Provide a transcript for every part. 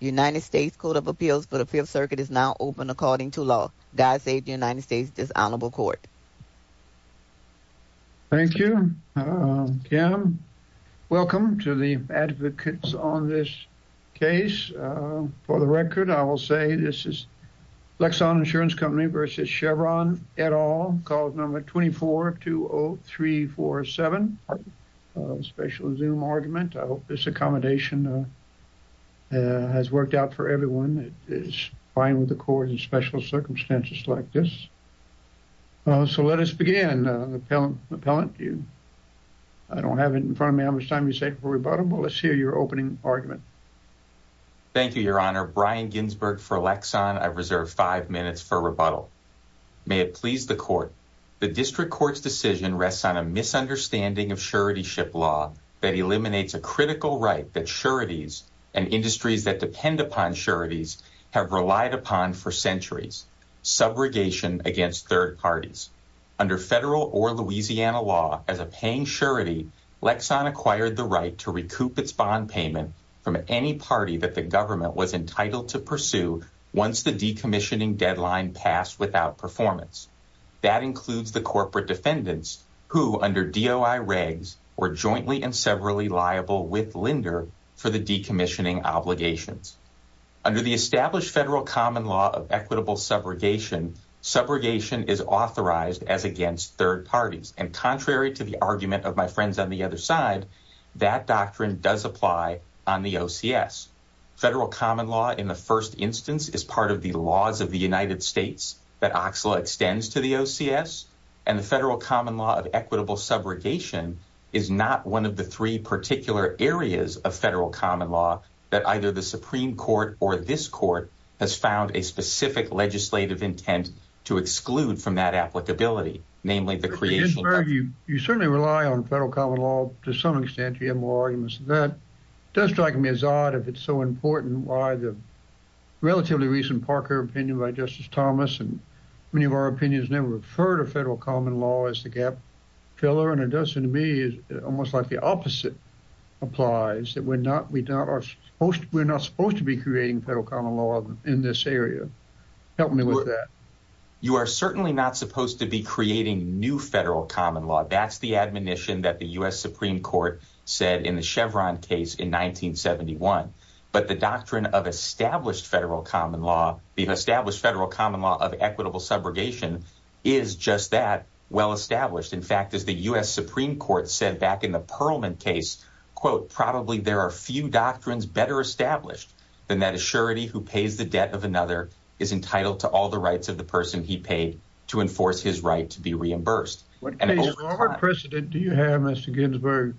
United States Code of Appeals for the Fifth Circuit is now open according to law. God save the United States Dishonorable Court. Thank you. Welcome to the advocates on this case. For the record, I will say this is Lexon Insurance Company v. Chevron, et al., Clause No. 2420347, special Zoom argument. I hope this accommodation has worked out for everyone. It is fine with the court in special circumstances like this. So let us begin. Appellant, you, I don't have it in front of me how much time you say before we vote, but let's hear your opening argument. Thank you, Your Honor. Brian Ginsberg for Lexon. I reserve five minutes for rebuttal. May it please the court. The district court's decision rests on a misunderstanding of suretyship law that eliminates a critical right that sureties and industries that depend upon sureties have relied upon for centuries, subrogation against third parties. Under federal or Louisiana law, as a paying surety, Lexon acquired the right to recoup its bond payment from any party that the government was entitled to pursue once the decommissioning deadline passed without performance. That includes the corporate defendants who under DOI regs were jointly and severally liable with lender for the decommissioning obligations. Under the established federal common law of equitable subrogation, subrogation is authorized as against third parties. And contrary to the argument of my friends on the other side, that doctrine does apply on the OCS. Federal common law in the first instance is part of the laws of the United States that OCSLA extends to the OCS. And the federal common law of equitable subrogation is not one of the three particular areas of federal common law that either the Supreme Court or this court has found a specific legislative intent to exclude from that applicability, namely the creation. You certainly rely on federal common law. To some extent, you have more arguments that does strike me as odd if it's so important why the relatively recent Parker opinion by Justice Thomas and many of our opinions never referred to federal common law as the gap filler. And it does seem to me almost like the opposite applies, that we're not we don't are we're not supposed to be creating federal common law in this area. Help me with that. You are certainly not supposed to be creating new federal common law. That's the admonition that the U.S. Supreme Court said in the Chevron case in 1971. But the doctrine of established federal common law, the established federal common law of equitable subrogation is just that well established. In fact, as the U.S. Supreme Court said back in the Perlman case, quote, Probably there are few doctrines better established than that assurity who pays the debt of another is entitled to all the rights of the person he paid to enforce his right to be reimbursed. What precedent do you have, Mr. Ginsburg,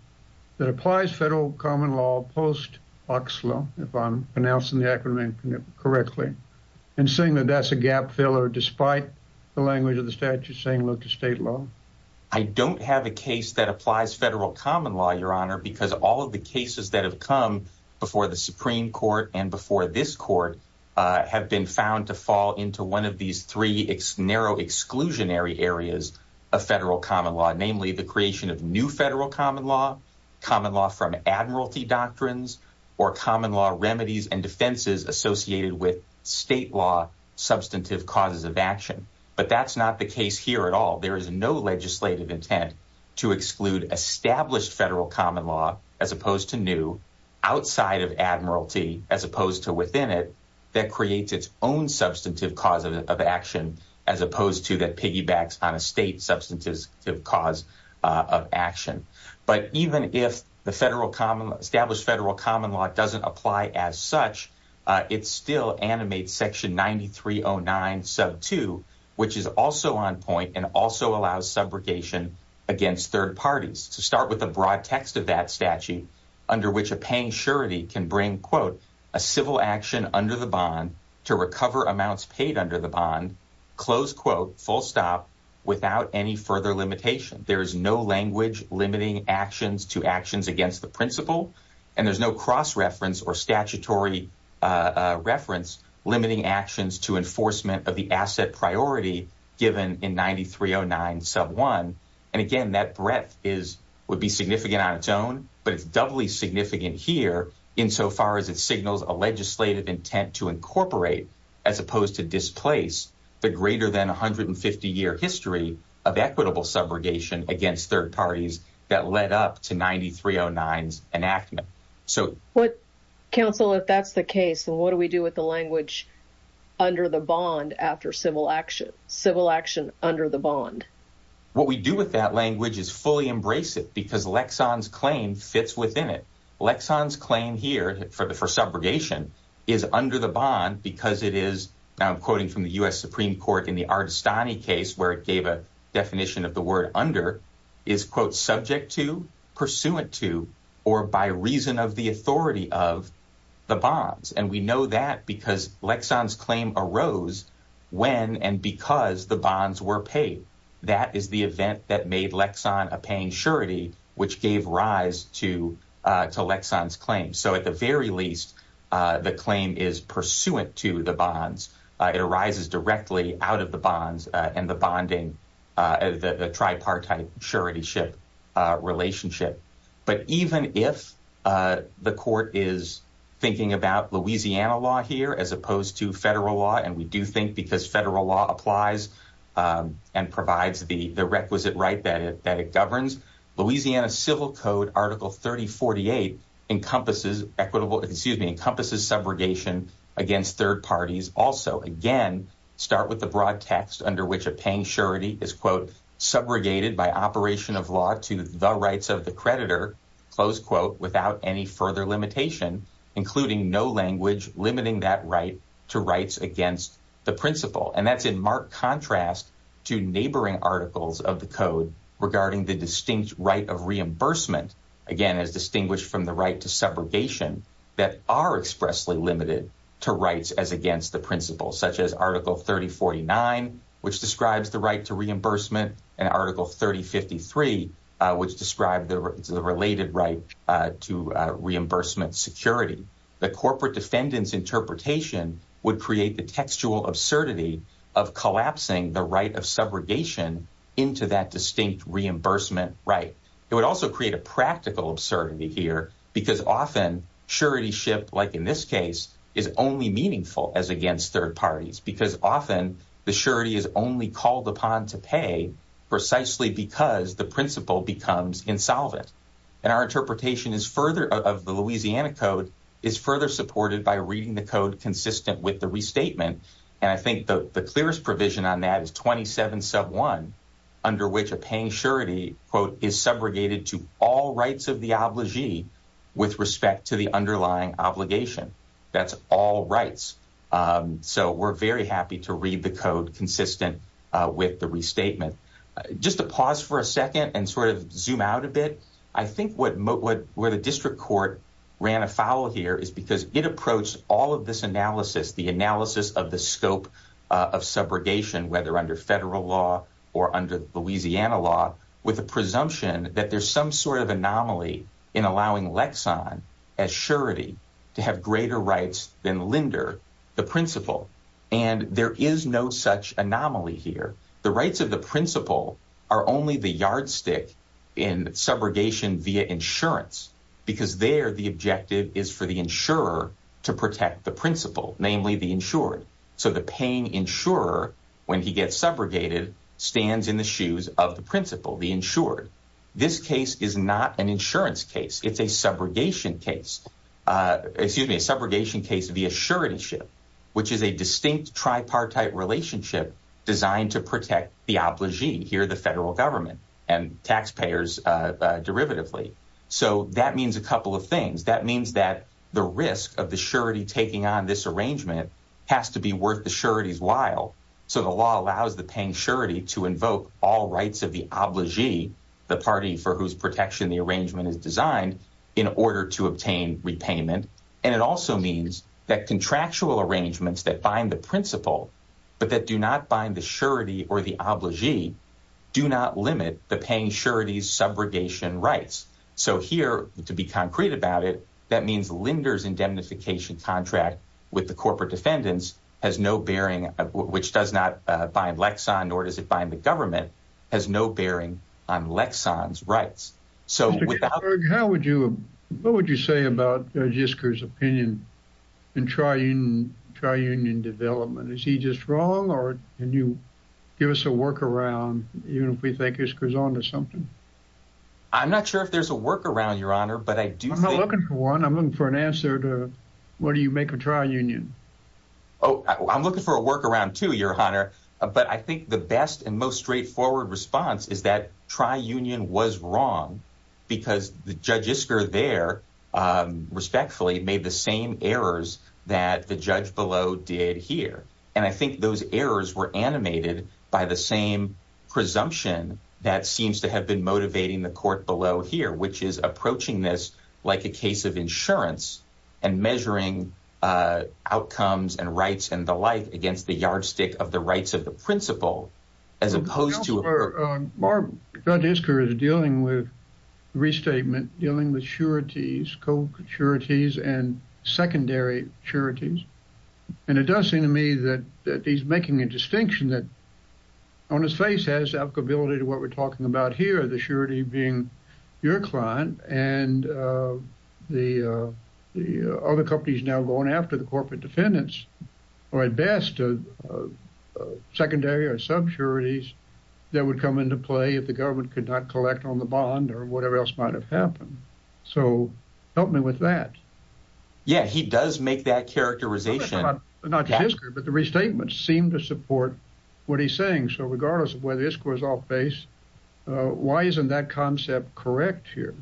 that applies federal common law post Oxlow, if I'm pronouncing the acronym correctly, and saying that that's a gap filler, despite the language of the statute saying look to state law. I don't have a case that applies federal common law, Your Honor, because all of the cases that have come before the Supreme Court and before this court have been found to fall into one of these three narrow exclusionary areas of federal common law, namely the creation of new federal common law, common law from admiralty doctrines or common law remedies and defenses associated with state law, substantive causes of action. But that's not the case here at all. There is no legislative intent to exclude established federal common law as opposed to new outside of admiralty, as opposed to within it that creates its own substantive cause of action, as opposed to that piggybacks on a state substantive cause of action. But even if the federal common established federal common law doesn't apply as such, it still animates Section 9309 sub two, which is also on point and also allows subrogation against third parties to start with a broad text of that statute under which a paying surety can bring, quote, a civil action under the bond to recover amounts paid under the bond. Close, quote, full stop without any further limitation. There is no language limiting actions to actions against the principle and there's no cross-reference or statutory reference limiting actions to enforcement of the asset priority given in 9309 sub one. And again, that breadth is would be significant on its own, but it's doubly significant here insofar as it signals a legislative intent to incorporate as opposed to displace the greater than 150 year history of equitable subrogation against third parties that led up to 9309 enactment. So what counsel, if that's the case, and what do we do with the language under the bond after civil action, civil action under the bond? What we do with that language is fully embrace it because Lexon's claim fits within it. Lexon's claim here for the for subrogation is under the bond because it is now quoting from the US Supreme Court in the Ardestani case where it gave a definition of the word under is, quote, subject to pursuant to or by reason of the authority of the bonds. And we know that because Lexon's claim arose when and because the bonds were paid. That is the event that made Lexon a paying surety, which gave rise to to Lexon's claim. So at the very least, the claim is pursuant to the bonds. It arises directly out of the bonds and the bonding, the tripartite surety ship relationship. But even if the court is thinking about Louisiana law here as opposed to federal law, and we do think because federal law applies and provides the requisite right that it governs, Louisiana Civil Code Article 3048 encompasses equitable excuse me, encompasses subrogation against third parties. Also, again, start with the broad text under which a paying surety is, quote, subrogated by operation of law to the rights of the creditor, close quote, without any further limitation, including no language limiting that right to rights against the principle. And that's in marked contrast to neighboring articles of the code regarding the distinct right of reimbursement, again, as distinguished from the right to subrogation that are expressly limited to rights as against the principle, such as Article 3049, which describes the right to reimbursement, and Article 3053, which described the related right to reimbursement security. The corporate defendant's interpretation would create the textual absurdity of collapsing the right of subrogation into that distinct reimbursement right. It would also create a practical absurdity here because often surety ship, like in this case, is only meaningful as against third parties because often the surety is only called upon to pay precisely because the principle becomes insolvent. And our interpretation is further of the Louisiana code is further supported by reading the code consistent with the restatement. And I think the clearest provision on that is twenty seven sub one under which a paying surety quote is subrogated to all rights of the obligee with respect to the underlying obligation. That's all rights. So we're very happy to read the code consistent with the restatement. Just to pause for a second and sort of zoom out a bit. I think what where the district court ran afoul here is because it approached all of this analysis, the analysis of the scope of subrogation, whether under federal law or under Louisiana law, with a presumption that there's some sort of anomaly in allowing Lexon as surety to have greater rights than Linder, the principal. And there is no such anomaly here. The rights of the principal are only the yardstick in subrogation via insurance because there the objective is for the insurer to protect the principal, namely the insured. So the paying insurer, when he gets subrogated, stands in the shoes of the principal, the insured. This case is not an insurance case. It's a subrogation case, excuse me, a subrogation case via surety ship, which is a distinct tripartite relationship designed to protect the obligee here, the federal government and taxpayers derivatively. So that means a couple of things. That means that the risk of the surety taking on this arrangement has to be worth the surety's while. So the law allows the paying surety to invoke all rights of the obligee, the party for whose protection the arrangement is designed in order to obtain repayment. And it also means that contractual arrangements that bind the principal, but that do not bind the surety or the obligee, do not limit the paying surety's subrogation rights. So here, to be concrete about it, that means lenders indemnification contract with the corporate defendants has no bearing, which does not bind Lexon, nor does it bind the government, has no bearing on Lexon's rights. So how would you what would you say about Jisker's opinion in trying to try union development? Is he just wrong? Or can you give us a workaround if we think this goes on to something? I'm not sure if there's a workaround, your honor, but I do know looking for one, I'm looking for an answer to what do you make of trial union? Oh, I'm looking for a workaround to your honor. But I think the best and most straightforward response is that try union was wrong because the judges are there respectfully made the same errors that the judge below did here. And I think those errors were animated by the same presumption that seems to have been motivating the court below here, which is approaching this like a case of insurance and measuring outcomes and rights and the like against the yardstick of the rights of the principal as opposed to. Mark, Jisker is dealing with restatement, dealing with sureties, co-sureties and secondary sureties. And it does seem to me that he's making a distinction that on his face has applicability to what we're talking about here, the surety being your client and the other companies now going after the corporate defendants or at best secondary or sub sureties that would come into play if the government could not collect on the bond or whatever else might have happened. So help me with that. Yeah, he does make that characterization, but the restatement seemed to support what he's saying. So regardless of where this goes off base, why isn't that concept correct here?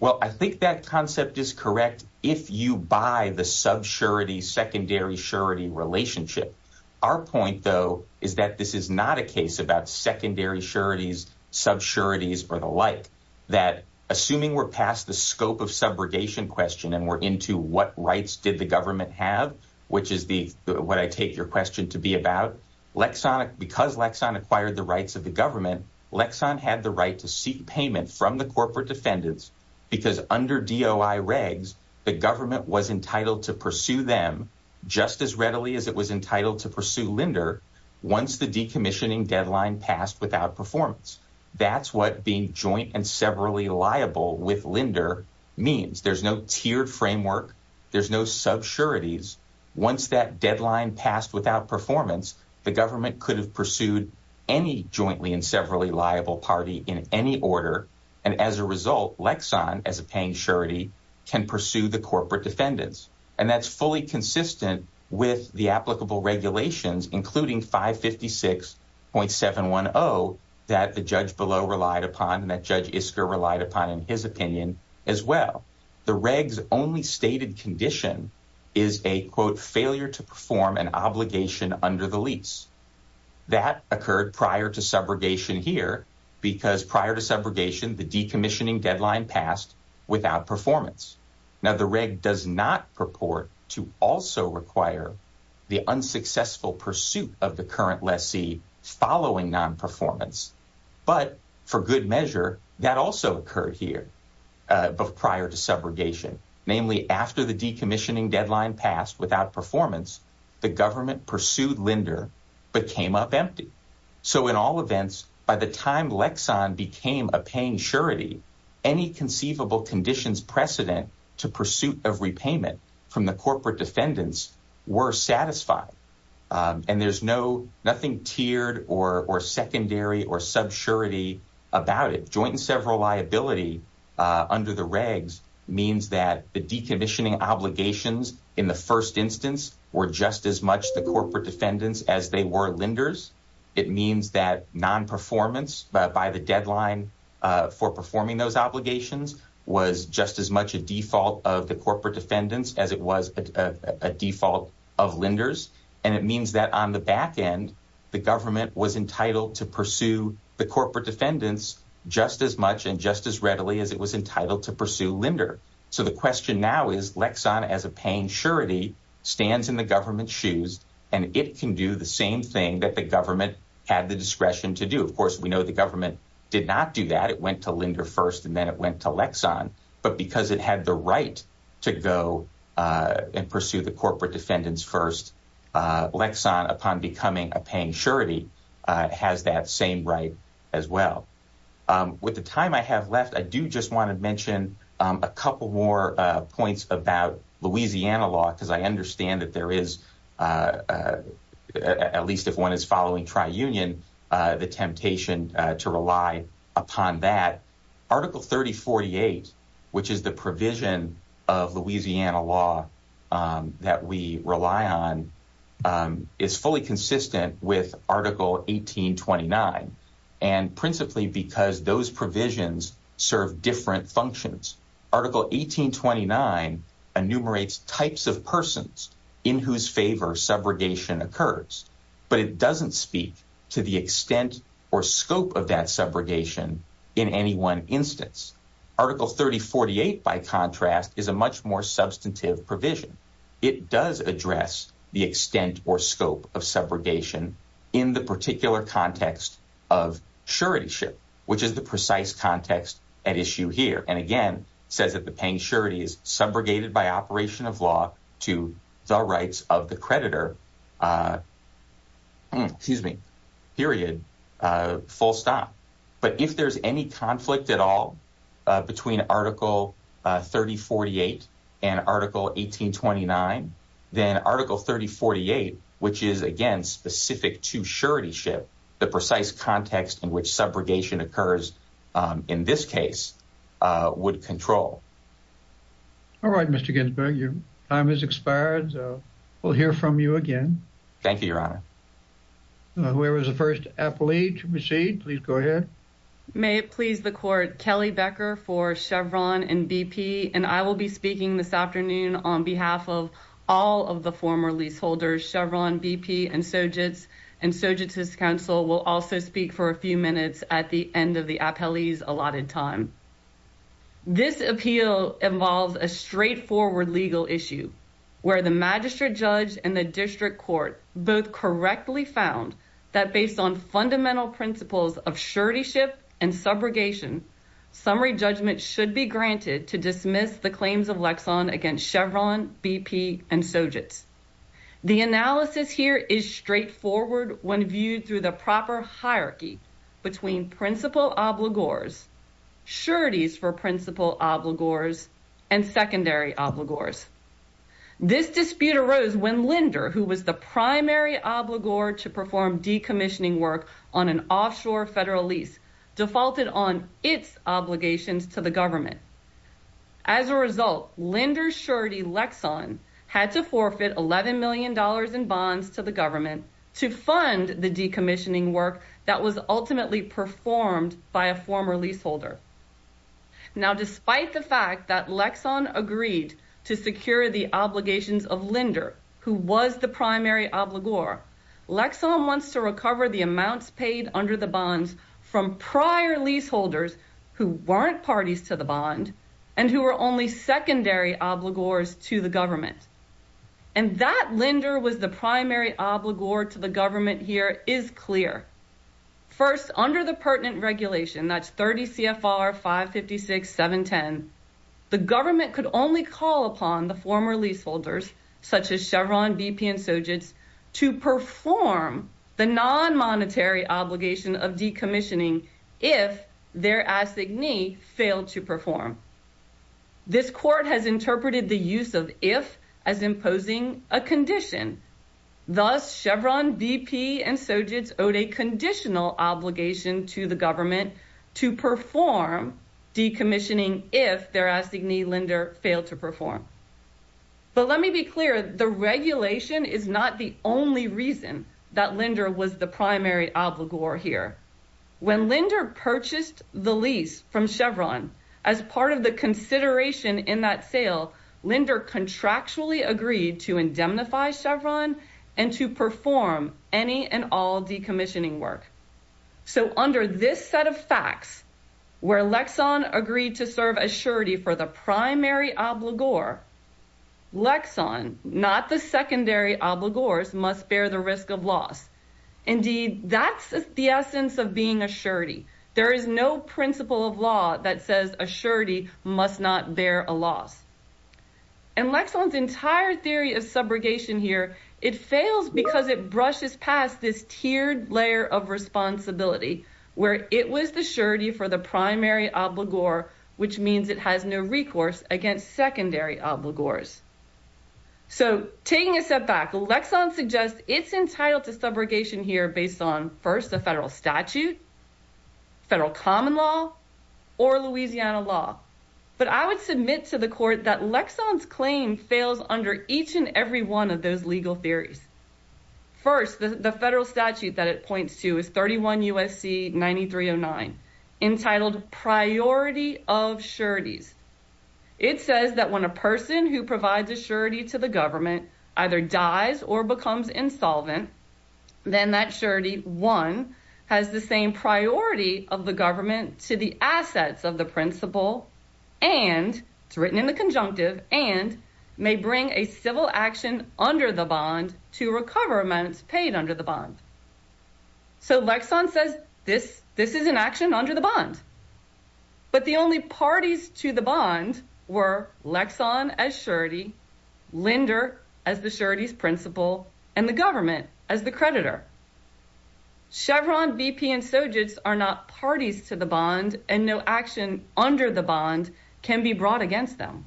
Well, I think that concept is correct if you buy the sub surety, secondary surety relationship. Our point, though, is that this is not a case about secondary sureties, sub sureties or the like, that assuming we're past the scope of subrogation question and we're into what rights did the government have, which is what I take your question to be about. Because Lexan acquired the rights of the government, Lexan had the right to seek payment from the corporate defendants because under DOI regs, the government was entitled to pursue them just as readily as it was entitled to pursue Linder once the decommissioning deadline passed without performance. That's what being joint and severally liable with Linder means. There's no tiered framework. There's no sub sureties. Once that deadline passed without performance, the government could have pursued any jointly and severally liable party in any order. And as a result, Lexan, as a paying surety, can pursue the corporate defendants. And that's fully consistent with the applicable regulations, including 556.710 that the judge below relied upon and that Judge Isker relied upon in his opinion as well. The regs only stated condition is a, quote, failure to perform an obligation under the lease. That occurred prior to subrogation here because prior to subrogation, the decommissioning deadline passed without performance. Now, the reg does not purport to also require the unsuccessful pursuit of the current lessee following non-performance. But for good measure, that also occurred here prior to subrogation. Namely, after the decommissioning deadline passed without performance, the government pursued Linder but came up empty. So in all events, by the time Lexan became a paying surety, any conceivable conditions precedent to pursuit of repayment from the corporate defendants were satisfied. And there's no, nothing tiered or secondary or subsurity about it. Joint and several liability under the regs means that the decommissioning obligations in the first instance were just as much the corporate defendants as they were Linders. It means that non-performance by the deadline for performing those obligations was just as much a default of the corporate defendants as it was a default of Linders. And it means that on the back end, the government was entitled to pursue the corporate defendants just as much and just as readily as it was entitled to pursue Linder. So the question now is Lexan as a paying surety stands in the government shoes and it can do the same thing that the government had the discretion to do. Of course, the government did not do that. It went to Linder first and then it went to Lexan, but because it had the right to go and pursue the corporate defendants first, Lexan upon becoming a paying surety has that same right as well. With the time I have left, I do just want to mention a couple more points about Louisiana law because I understand that there is, at least if one is following tri-union, the temptation to rely upon that. Article 3048, which is the provision of Louisiana law that we rely on, is fully consistent with article 1829 and principally because those provisions serve different functions. Article 1829 enumerates types of persons in whose favor subrogation occurs, but it doesn't speak to the extent or scope of that subrogation in any one instance. Article 3048, by contrast, is a much more substantive provision. It does address the extent or scope of subrogation in the particular context of suretyship, which is the precise context at issue here and again says that the paying surety subrogated by operation of law to the rights of the creditor, period, full stop. But if there's any conflict at all between article 3048 and article 1829, then article 3048, which is again specific to suretyship, the precise context in which subrogation occurs in this case would control. All right, Mr. Ginsburg, your time has expired, so we'll hear from you again. Thank you, your honor. Whoever's the first appellee to proceed, please go ahead. May it please the court, Kelly Becker for Chevron and BP, and I will be speaking this afternoon on behalf of all of the former leaseholders, Chevron, BP, and Sojitz, and Sojitz's counsel will also speak for a few minutes at the end of the appellee's allotted time. This appeal involves a straightforward legal issue where the magistrate judge and the district court both correctly found that based on fundamental principles of suretyship and subrogation, summary judgment should be granted to dismiss the claims of Lexon against Chevron, BP, and Sojitz. The analysis here is straightforward when viewed through the proper hierarchy between principal obligors, sureties for principal obligors, and secondary obligors. This dispute arose when Linder, who was the primary obligor to perform decommissioning work on an offshore federal lease, defaulted on its obligations to the government. As a result, Linder's surety, Lexon, had to forfeit $11 million in bonds to the government to fund the decommissioning work that was ultimately performed by a former leaseholder. Now, despite the fact that Lexon agreed to secure the obligations of Linder, who was the primary obligor, Lexon wants to recover the amounts paid under the bonds from prior leaseholders who weren't parties to the bond and who were only secondary obligors to the government. And that Linder was the primary obligor to the government here is clear. First, under the pertinent regulation, that's 30 CFR 556-710, the government could only call upon the former leaseholders, such as Chevron, BP, and Sojitz, to perform the non-monetary obligation of decommissioning if their assignee failed to perform. This court has interpreted the use of if as imposing a condition. Thus, Chevron, BP, and Sojitz owed a conditional obligation to the government to perform decommissioning if their assignee Linder failed to perform. But let me be clear, the regulation is not the only reason that Linder was the primary obligor here. When Linder purchased the lease from Chevron, as part of the consideration in that sale, Linder contractually agreed to indemnify Chevron and to perform any and all decommissioning work. So under this set of facts, where Lexon agreed to serve as surety for the primary obligor, Lexon, not the secondary obligors, must bear the risk of loss. Indeed, that's the essence of being a surety. There is no principle of law that says a surety must not bear a loss. And Lexon's entire theory of subrogation here, it fails because it brushes past this tiered layer of responsibility, where it was the surety for the primary obligor, which means it has no recourse against secondary obligors. So taking a step back, Lexon suggests it's entitled to subrogation here based on first the federal statute, federal common law, or Louisiana law. But I would submit to the court that Lexon's claim fails under each and every one of those legal theories. First, the federal statute that it points to is 31 U.S.C. 9309 entitled Priority of Sureties. It says that when a person who provides a surety to the government either dies or becomes insolvent, then that surety, one, has the same priority of the government to the assets of the principal and, it's written in the conjunctive, and may bring a civil action under the bond to recover amounts paid under the bond. So Lexon says this is an action under the bond. But the only parties to the bond were Lexon as surety, Linder as the surety's principal, and the government as the creditor. Chevron, VP, and Sojitz are not parties to the bond and no action under the bond can be brought against them.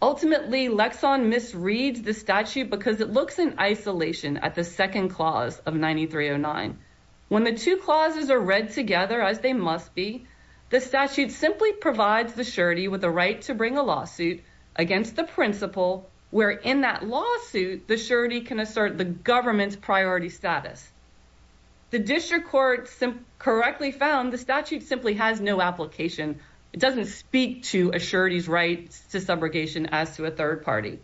Ultimately, Lexon misreads the statute because it at the second clause of 9309. When the two clauses are read together as they must be, the statute simply provides the surety with the right to bring a lawsuit against the principal where in that lawsuit the surety can assert the government's priority status. The district court correctly found the statute simply has no application. It doesn't speak to a surety's right to subrogation as to a third party.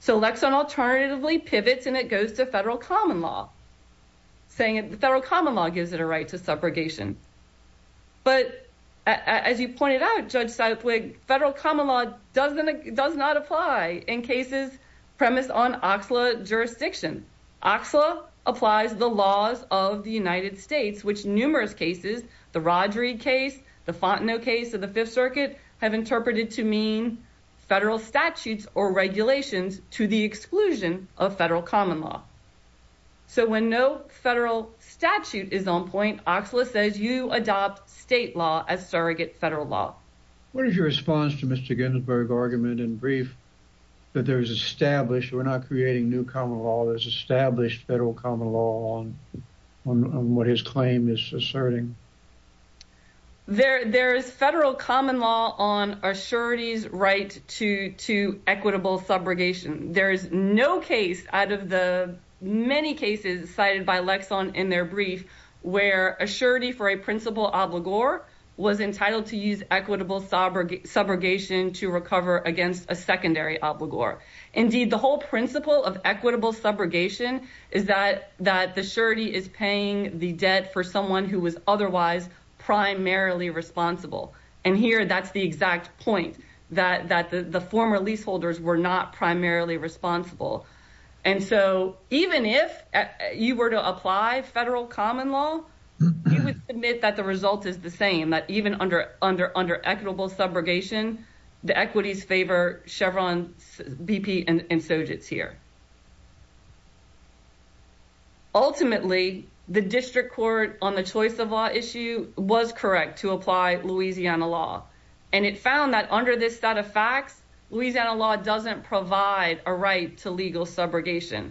So Lexon alternatively pivots and it goes to federal common law, saying the federal common law gives it a right to subrogation. But as you pointed out, Judge Southwick, federal common law does not apply in cases premised on OXLA jurisdiction. OXLA applies the laws of the United States, which numerous cases, the Rodrigue case, the Fontenot case of the Fifth Circuit, have regulations to the exclusion of federal common law. So when no federal statute is on point, OXLA says you adopt state law as surrogate federal law. What is your response to Mr. Ginsburg's argument in brief that there's established, we're not creating new common law, there's established federal common law on what his claim is asserting? There's federal common law on a surety's right to equitable subrogation. There is no case out of the many cases cited by Lexon in their brief where a surety for a principal obligor was entitled to use equitable subrogation to recover against a secondary obligor. Indeed, the whole principle of equitable subrogation is that the surety is paying the debt for someone who was otherwise primarily responsible. And here, that's the exact point, that the former leaseholders were not primarily responsible. And so even if you were to apply federal common law, you would submit that the result is the same, that even under equitable subrogation, the equities favor Chevron BP and Sojitz here. Ultimately, the district court on the choice of law issue was correct to apply Louisiana law. And it found that under this set of facts, Louisiana law doesn't provide a right to legal subrogation.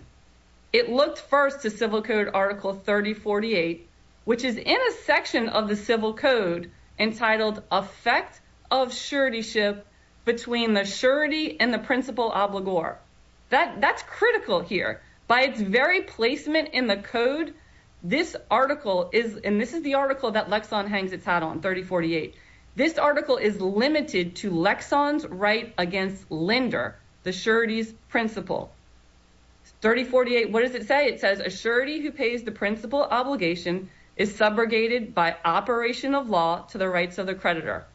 It looked first to Civil Code Article 3048, which is in a section of the Civil Code entitled effect of suretyship between the surety and the principal obligor. That's critical here. By its very placement in the code, this article is, and this is the article that Lexon hangs its hat on, 3048. This article is limited to Lexon's right against lender, the surety's principal. 3048, what does it say? It says a surety who pays the principal obligation is subrogated by operation of law to the rights of the creditor.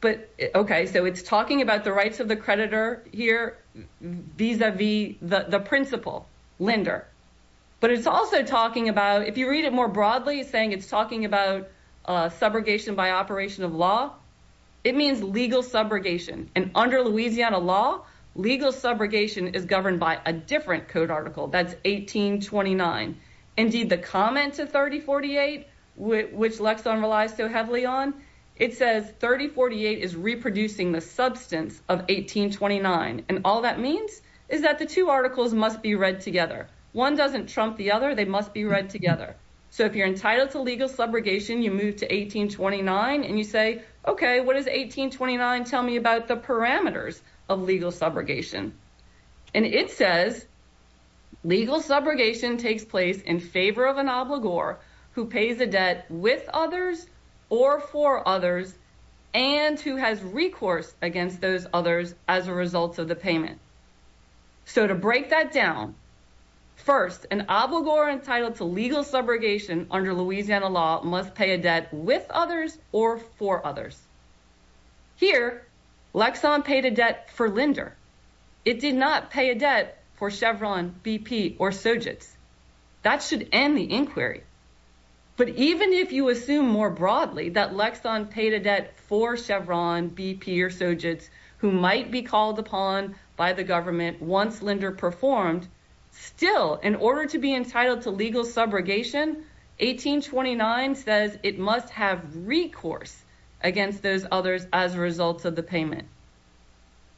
But okay, so it's talking about the rights of the creditor here vis-a-vis the principal lender. But it's also talking about, if you read it more broadly, saying it's talking about subrogation by operation of law, it means legal subrogation. And under Louisiana law, legal subrogation is governed by a different code article, that's 1829. Indeed, the comment to 3048, which Lexon relies so heavily on, it says 3048 is reproducing the substance of 1829. And all that means is that the two articles must be read together. One doesn't trump the other, they must be read together. So if you're entitled to legal subrogation, you move to 1829 and you say, okay, what does 1829 tell me about the parameters of legal subrogation? And it says, legal subrogation takes place in favor of an obligor who pays a debt with others or for others, and who has recourse against those others as a result of the payment. So to break that down, first, an obligor entitled to legal subrogation under Louisiana law must pay a debt with others or for others. Here, Lexon paid a debt for Linder. It did not pay a debt for Chevron, BP or Sojitz. That should end the inquiry. But even if you assume more broadly that Lexon paid a debt for Chevron, BP or Sojitz, who might be called upon by the government once performed, still, in order to be entitled to legal subrogation, 1829 says it must have recourse against those others as a result of the payment.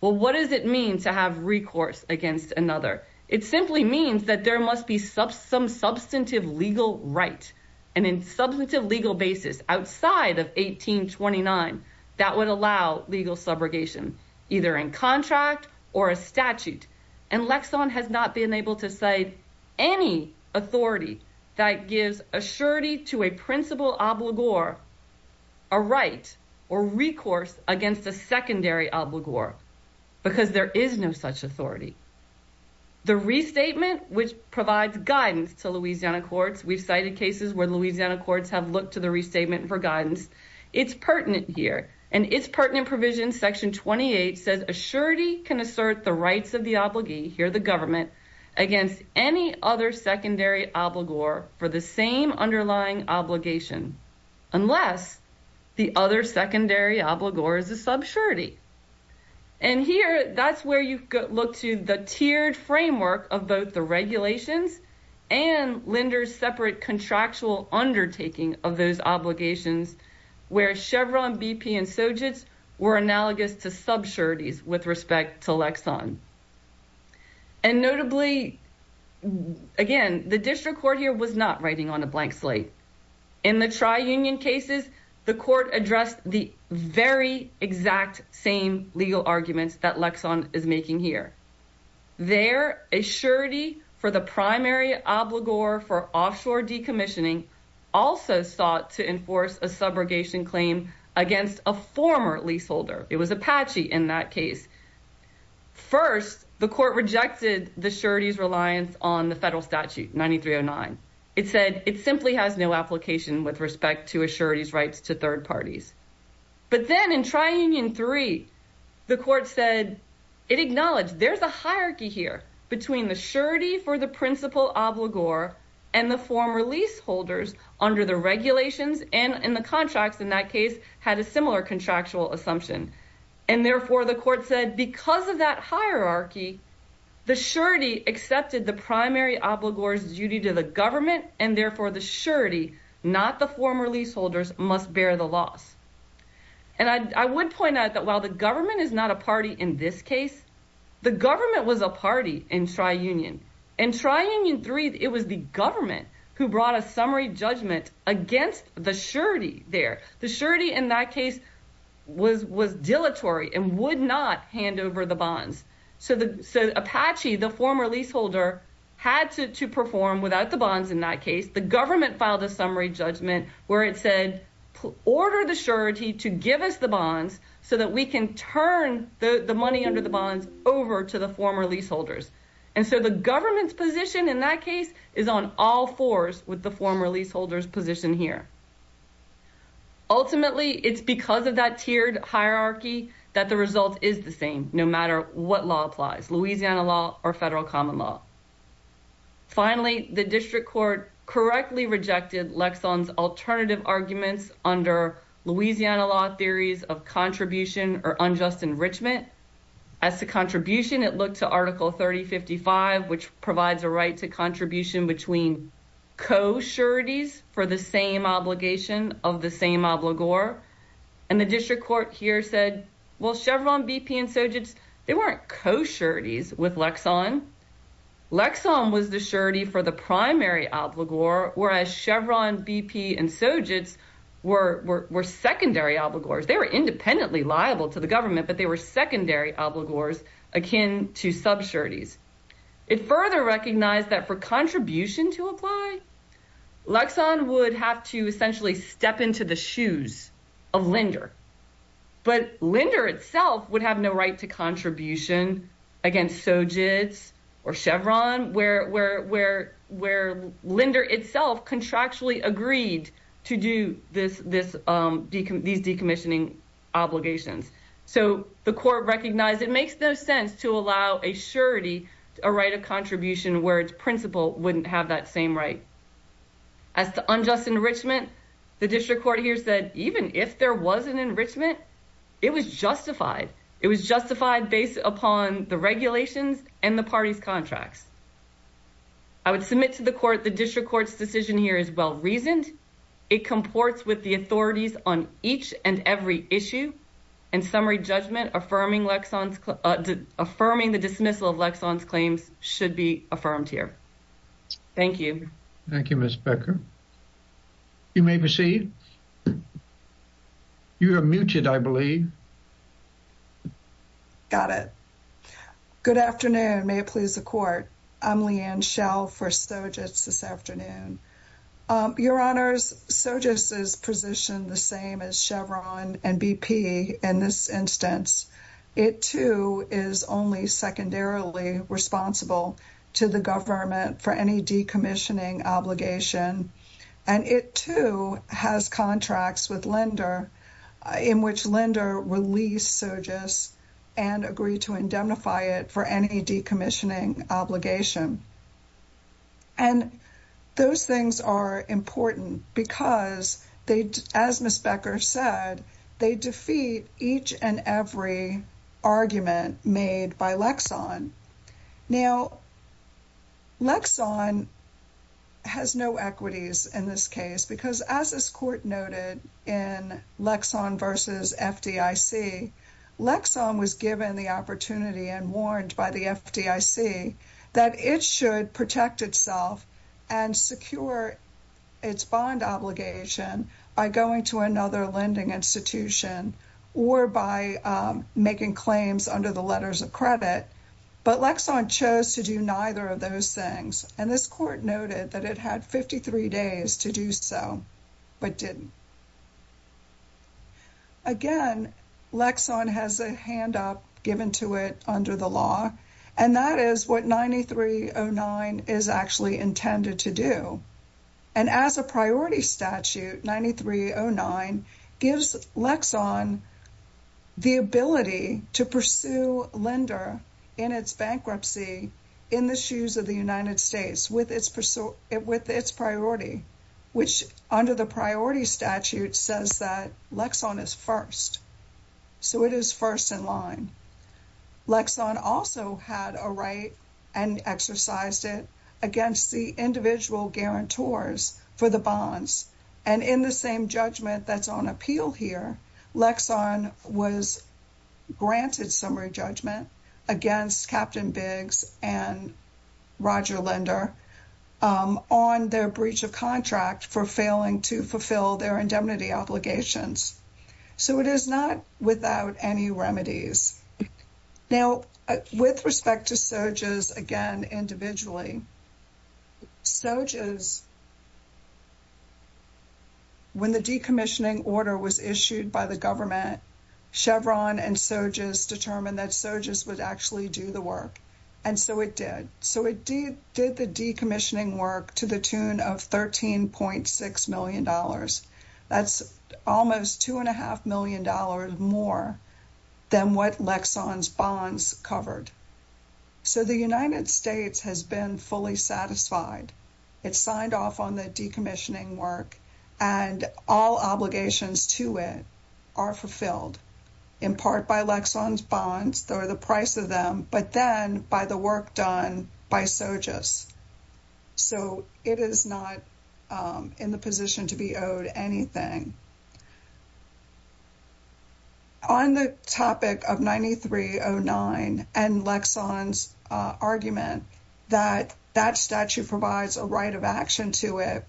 Well, what does it mean to have recourse against another? It simply means that there must be some substantive legal right and in substantive legal basis outside of 1829 that would allow legal subrogation, either in contract or a statute. And Lexon has not been able to cite any authority that gives a surety to a principal obligor a right or recourse against a secondary obligor because there is no such authority. The restatement, which provides guidance to Louisiana courts, we've cited cases where Louisiana courts have looked to the restatement for guidance. It's pertinent here. And it's pertinent provision section 28 says a surety can assert the rights of the obligee, here the government, against any other secondary obligor for the same underlying obligation unless the other secondary obligor is a subsurity. And here, that's where you look to the tiered framework of both the regulations and Linder's separate contractual undertaking of those obligations where Chevron, BP, and Sojitz were analogous to subsurities with respect to Lexon. And notably, again, the district court here was not writing on a blank slate. In the tri-union cases, the court addressed the very exact same legal arguments that Lexon is making here. There, a surety for the primary obligor for offshore decommissioning also sought to enforce a subrogation claim against a former leaseholder. It was Apache in that case. First, the court rejected the surety's reliance on the federal statute 9309. It said it simply has no application with respect to a surety's rights to third parties. But then in tri-union 3, the court said it acknowledged there's a hierarchy here between the surety for the principal obligor and the former leaseholders under the regulations, and in the contracts in that case, had a similar contractual assumption. And therefore, the court said because of that hierarchy, the surety accepted the primary obligor's duty to the government, and therefore the surety, not the former leaseholders, must bear the loss. And I would point out that while the government is not a party in this case, the government was a party in tri-union. In tri-union 3, it was the government who brought a summary judgment against the surety there. The surety in that case was dilatory and would not hand over the bonds. So Apache, the former leaseholder, had to perform without the bonds in that case. The government filed a summary judgment where it said, order the surety to give us the bonds so that we can turn the money under the bonds over to the former leaseholders. And so the government's position in that case is on all fours with the former leaseholder's position here. Ultimately, it's because of that tiered hierarchy that the result is the same, no matter what law applies, Louisiana law or federal common law. Finally, the district court correctly rejected Lexon's alternative arguments under Louisiana law theories of contribution or unjust enrichment. As to contribution, it looked to Article 3055, which provides a right to contribution between co-sureties for the same obligation of the same obligor. And the district court here said, well, Chevron, BP, and Sojitz, they weren't co-sureties with Lexon. Lexon was the surety for the primary obligor, whereas Chevron, BP, and Sojitz were secondary obligors. They were independently liable to the government, but they were secondary obligors akin to subsureties. It further recognized that for to apply, Lexon would have to essentially step into the shoes of Linder. But Linder itself would have no right to contribution against Sojitz or Chevron, where Linder itself contractually agreed to do these decommissioning obligations. So the court recognized it makes no sense to allow a right of contribution where its principal wouldn't have that same right. As to unjust enrichment, the district court here said, even if there was an enrichment, it was justified. It was justified based upon the regulations and the party's contracts. I would submit to the court the district court's decision here is well-reasoned. It comports with the authorities on each and every should be affirmed here. Thank you. Thank you, Ms. Becker. You may proceed. You are muted, I believe. Got it. Good afternoon. May it please the court. I'm Leanne Schell for Sojitz this afternoon. Your honors, Sojitz is positioned the same as Chevron and BP in this instance. It too is only secondarily responsible to the government for any decommissioning obligation. And it too has contracts with Linder in which Linder released Sojitz and agreed to indemnify it for any decommissioning obligation. And those things are important because they, as Ms. Becker said, they defeat each and every argument made by Lexon. Now, Lexon has no equities in this case because as this court noted in Lexon versus FDIC, Lexon was given the opportunity and warned by the FDIC that it should protect itself and secure its bond obligation by going to another lending institution or by making claims under the letters of credit. But Lexon chose to do neither of those things. And this court noted that it had 53 days to do so, but didn't. Again, Lexon has a hand up given to it under the law. And that is what 9309 is actually intended to do. And as a priority statute, 9309 gives Lexon the ability to pursue Linder in its bankruptcy in the shoes of the United States with its priority, which under the priority statute says that Lexon is first. So it is first in line. Lexon also had a right and exercised it against the individual guarantors for the bonds. And in the same judgment that's on appeal here, Lexon was granted summary judgment against Captain Biggs and Roger Linder on their breach of contract for failing to fulfill their indemnity obligations. So it is not without any remedies. Now, with respect to SOGES, again, individually, SOGES, when the decommissioning order was issued by the government, Chevron and SOGES determined that SOGES would actually do the work. And so it did. So it did the decommissioning work to the tune of $13.6 million. That's almost $2.5 million more than what Lexon's bonds covered. So the United States has been fully satisfied. It signed off on the decommissioning work and all obligations to it are fulfilled, in part by Lexon's bonds or the price of them, but then by the work done by SOGES. So it is not in the position to be owed anything. On the topic of 9309 and Lexon's argument that that statute provides a right of action to it,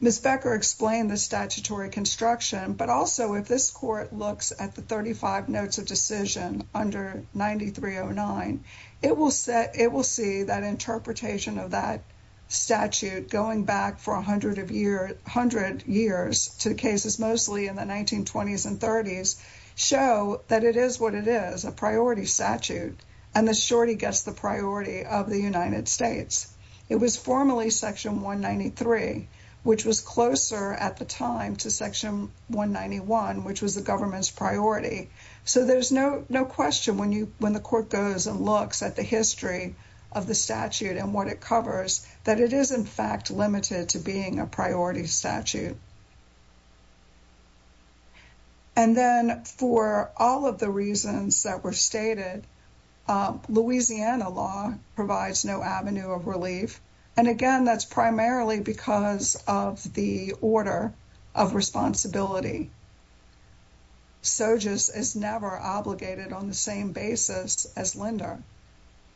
Ms. Becker explained the statutory construction, but also if this court looks at the 35 notes of under 9309, it will see that interpretation of that statute going back for a hundred years to cases mostly in the 1920s and 30s show that it is what it is, a priority statute, and the shorty gets the priority of the United States. It was formally Section 193, which was closer at the time to Section 191, which was the government's priority. So there's no question when the court goes and looks at the history of the statute and what it covers, that it is in fact limited to being a priority statute. And then for all of the reasons that were stated, Louisiana law provides no avenue of relief. And again, that's primarily because of the order of responsibility. SOGES is never obligated on the same basis as LENDER,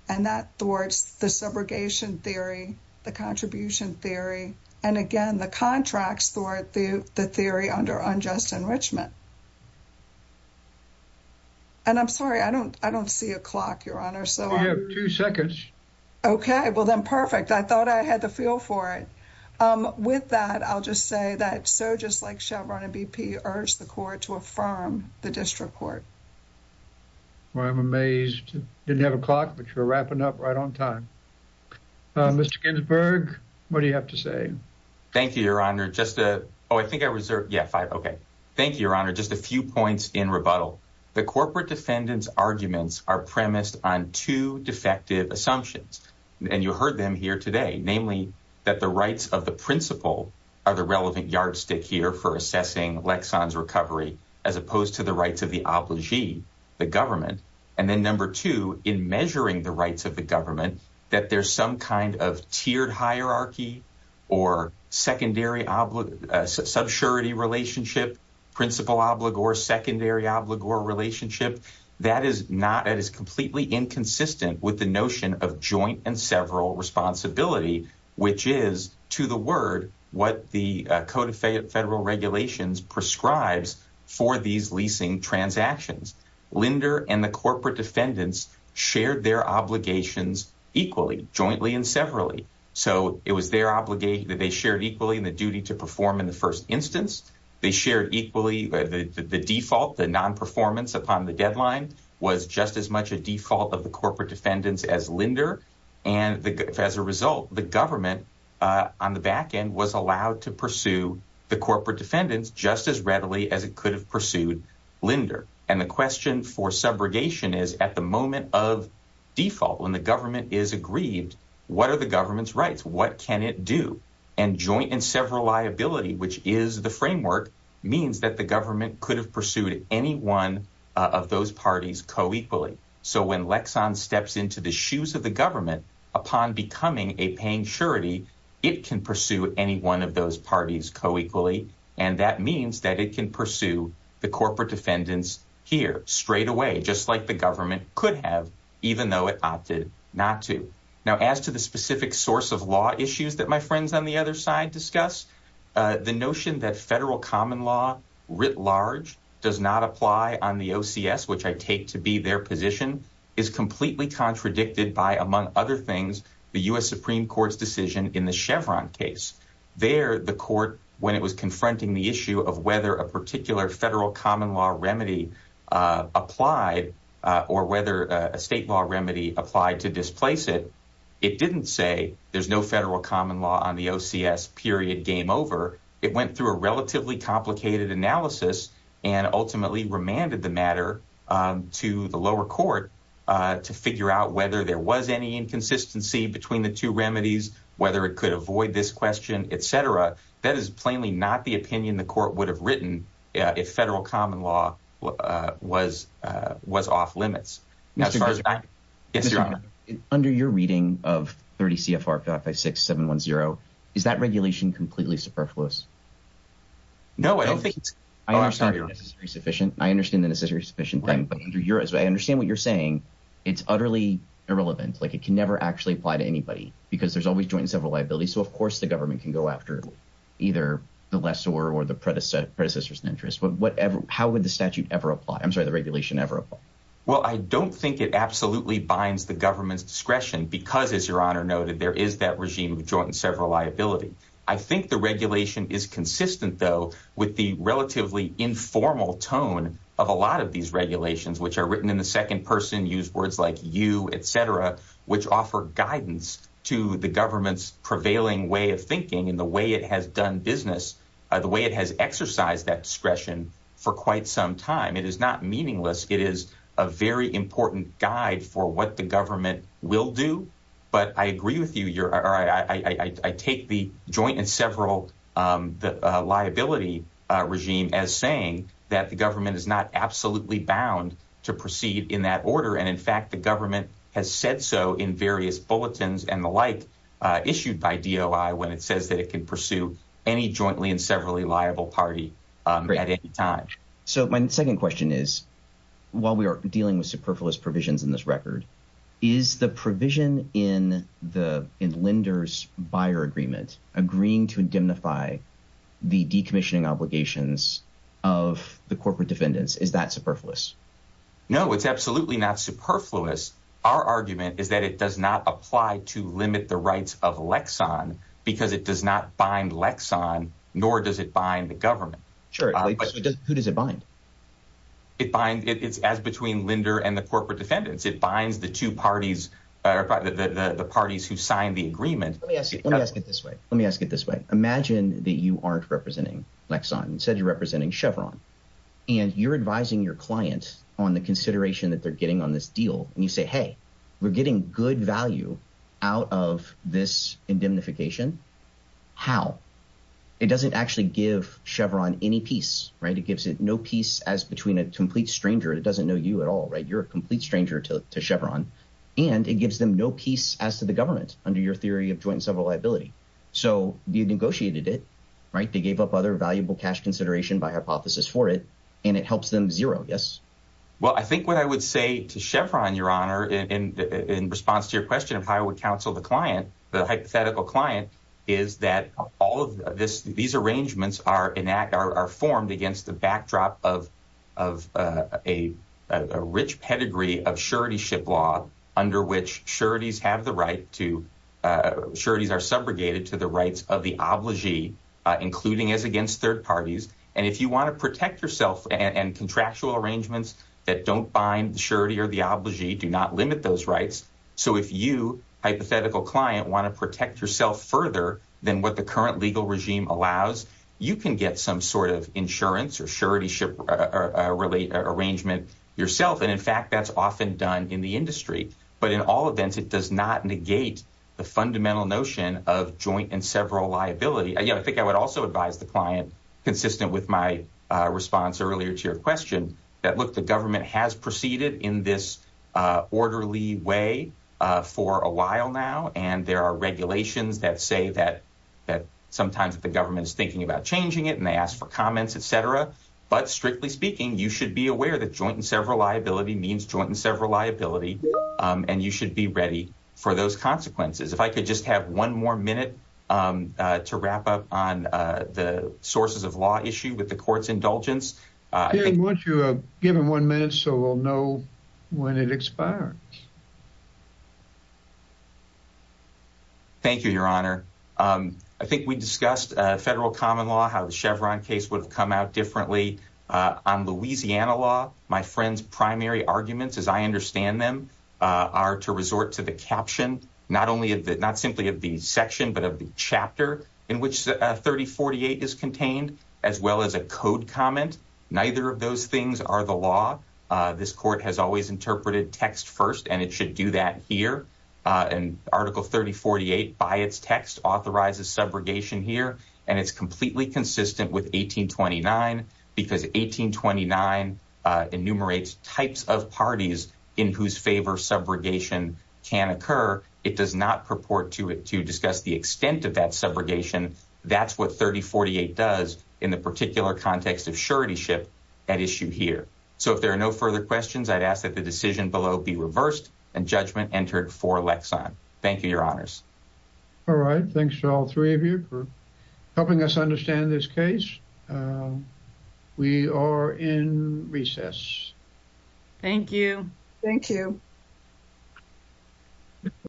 and that thwarts the subrogation theory, the contribution theory, and again, the contracts thwart the theory under unjust enrichment. And I'm sorry, I don't see a clock, Your Honor. We have two seconds. Okay, well then perfect. I thought I had the feel for it. With that, I'll just say that SOGES, like Chevron and BP, urged the court to affirm the district court. Well, I'm amazed. Didn't have a clock, but you're wrapping up right on time. Mr. Ginsburg, what do you have to say? Thank you, Your Honor. Just a, oh, I think I reserved, yeah, five. Okay. Thank you, Your Honor. Just a few points in rebuttal. The corporate defendant's arguments are premised on two defective assumptions, and you heard them here today. Namely, that the rights of the principal are the relevant yardstick here for assessing Lexon's recovery, as opposed to the rights of the obligee, the government. And then number two, in measuring the rights of the government, that there's some kind of tiered hierarchy or secondary subsurity relationship, principal obligor, secondary obligor relationship. That is not, that is completely inconsistent with the notion of joint and several responsibility, which is, to the word, what the Code of Federal Regulations prescribes for these leasing transactions. Linder and the corporate defendants shared their obligations equally, jointly and severally. So it was their obligee that they shared equally in the duty to perform in the first instance. They shared equally, the default, the non-performance upon the deadline was just as much a default of the corporate defendants as Linder. And as a result, the government on the back end was allowed to pursue the corporate defendants just as readily as it could have pursued Linder. And the question for subrogation is at the moment of default, when the government is aggrieved, what are the government's rights? What can it do? And joint and several liability, which is the framework, means that the government could have pursued any one of those parties co-equally. So when Lexon steps into the shoes of the government, upon becoming a paying surety, it can pursue any one of those parties co-equally. And that means that it can pursue the corporate defendants here straight away, just like the government could have, even though it opted not to. Now, as to the specific source of law issues that my friends on the other side discuss, the notion that federal common law writ large does not apply on the OCS, which I take to be their position, is completely contradicted by, among other things, the U.S. Supreme Court's decision in the Chevron case. There, the court, when it was confronting the issue of whether a particular federal common law remedy applied or whether a state law remedy applied to displace it, it didn't say there's no federal common law on the OCS, period, game over. It went through a relatively complicated analysis and ultimately remanded the matter to the lower court to figure out whether there was any inconsistency between the two remedies, whether it could avoid this question, et cetera. That is plainly not the opinion the would have written if federal common law was off limits. Under your reading of 30 CFR 556710, is that regulation completely superfluous? No, I don't think it's. Oh, I'm sorry. I understand the necessary sufficient thing, but I understand what you're saying. It's utterly irrelevant. Like, it can never actually apply to anybody because there's always joint and several liabilities. So, of course, the government can go after either the lessor or the predecessor, predecessors in interest. But how would the statute ever apply? I'm sorry, the regulation ever apply? Well, I don't think it absolutely binds the government's discretion because, as your honor noted, there is that regime of joint and several liability. I think the regulation is consistent, though, with the relatively informal tone of a lot of these regulations, which are written in the second person, use words like you, et cetera, which offer guidance to the government's prevailing way of thinking and the way it has done business, the way it has exercised that discretion for quite some time. It is not meaningless. It is a very important guide for what the government will do. But I agree with you. I take the joint and several liability regime as saying that the government is not absolutely bound to proceed in that order. And in fact, the government has said so in various bulletins and the like issued by DOI when it says that it can pursue any jointly and severally liable party at any time. So my second question is, while we are dealing with superfluous provisions in this record, is the provision in the lenders buyer agreement agreeing to indemnify the decommissioning obligations of the corporate defendants? Is that superfluous? No, it's absolutely not superfluous. Our argument is that it does not apply to limit the rights of Lexon because it does not bind Lexon, nor does it bind the government. Sure. Who does it bind? It binds. It's as between lender and the corporate defendants. It binds the two parties, the parties who signed the agreement. Let me ask you, let me ask it this way. Let me ask it this way. Imagine that you aren't representing Lexon. You said you're representing Chevron and you're advising your client on the hey, we're getting good value out of this indemnification. How? It doesn't actually give Chevron any peace, right? It gives it no peace as between a complete stranger. It doesn't know you at all, right? You're a complete stranger to Chevron and it gives them no peace as to the government under your theory of joint and several liability. So you negotiated it, right? They gave up other valuable cash consideration by hypothesis for it and it them zero. Yes. Well, I think what I would say to Chevron, your honor, in response to your question of how I would counsel the client, the hypothetical client is that all of this, these arrangements are enact are formed against the backdrop of, of a rich pedigree of surety ship law under which sureties have the right to sureties are subrogated to the rights of the including as against third parties. And if you want to protect yourself and contractual arrangements that don't bind the surety or the obligee do not limit those rights. So if you hypothetical client want to protect yourself further than what the current legal regime allows, you can get some sort of insurance or surety ship or a relate arrangement yourself. And in fact, that's often done in the industry, but in all events, it does not negate the fundamental notion of joint and several liability. I think I would also advise the client consistent with my response earlier to your question that look, the government has proceeded in this, uh, orderly way, uh, for a while now. And there are regulations that say that, that sometimes if the government is thinking about changing it and they ask for comments, et cetera, but strictly speaking, you should be aware that joint and several liability means joint and several liability. Um, and you should be ready for those consequences. If I could just have one more minute, um, uh, to wrap up on, uh, the sources of law issue with the court's indulgence, uh, once you have given one minute, so we'll know when it expires. Thank you, your honor. Um, I think we discussed a federal common law, how the Chevron case would come out differently, uh, on Louisiana law, my friend's primary arguments as I understand them, uh, are to resort to the caption, not only of the, not simply of the section, but of the chapter in which a 3048 is contained as well as a code comment. Neither of those things are the law. Uh, this court has always interpreted text first and it should do that here. Uh, and article 3048 by its text authorizes subrogation here and it's completely consistent with 1829 because 1829, uh, enumerates types of parties in whose favor subrogation can occur. It does not purport to it to discuss the extent of that subrogation. That's what 3048 does in the particular context of surety ship at issue here. So if there are no further questions, I'd ask that the decision below be reversed and judgment entered for Lex on. Thank you, your honors. All right. Thanks to all three of you for helping us understand this case. Uh, we are in recess. Thank you. Thank you.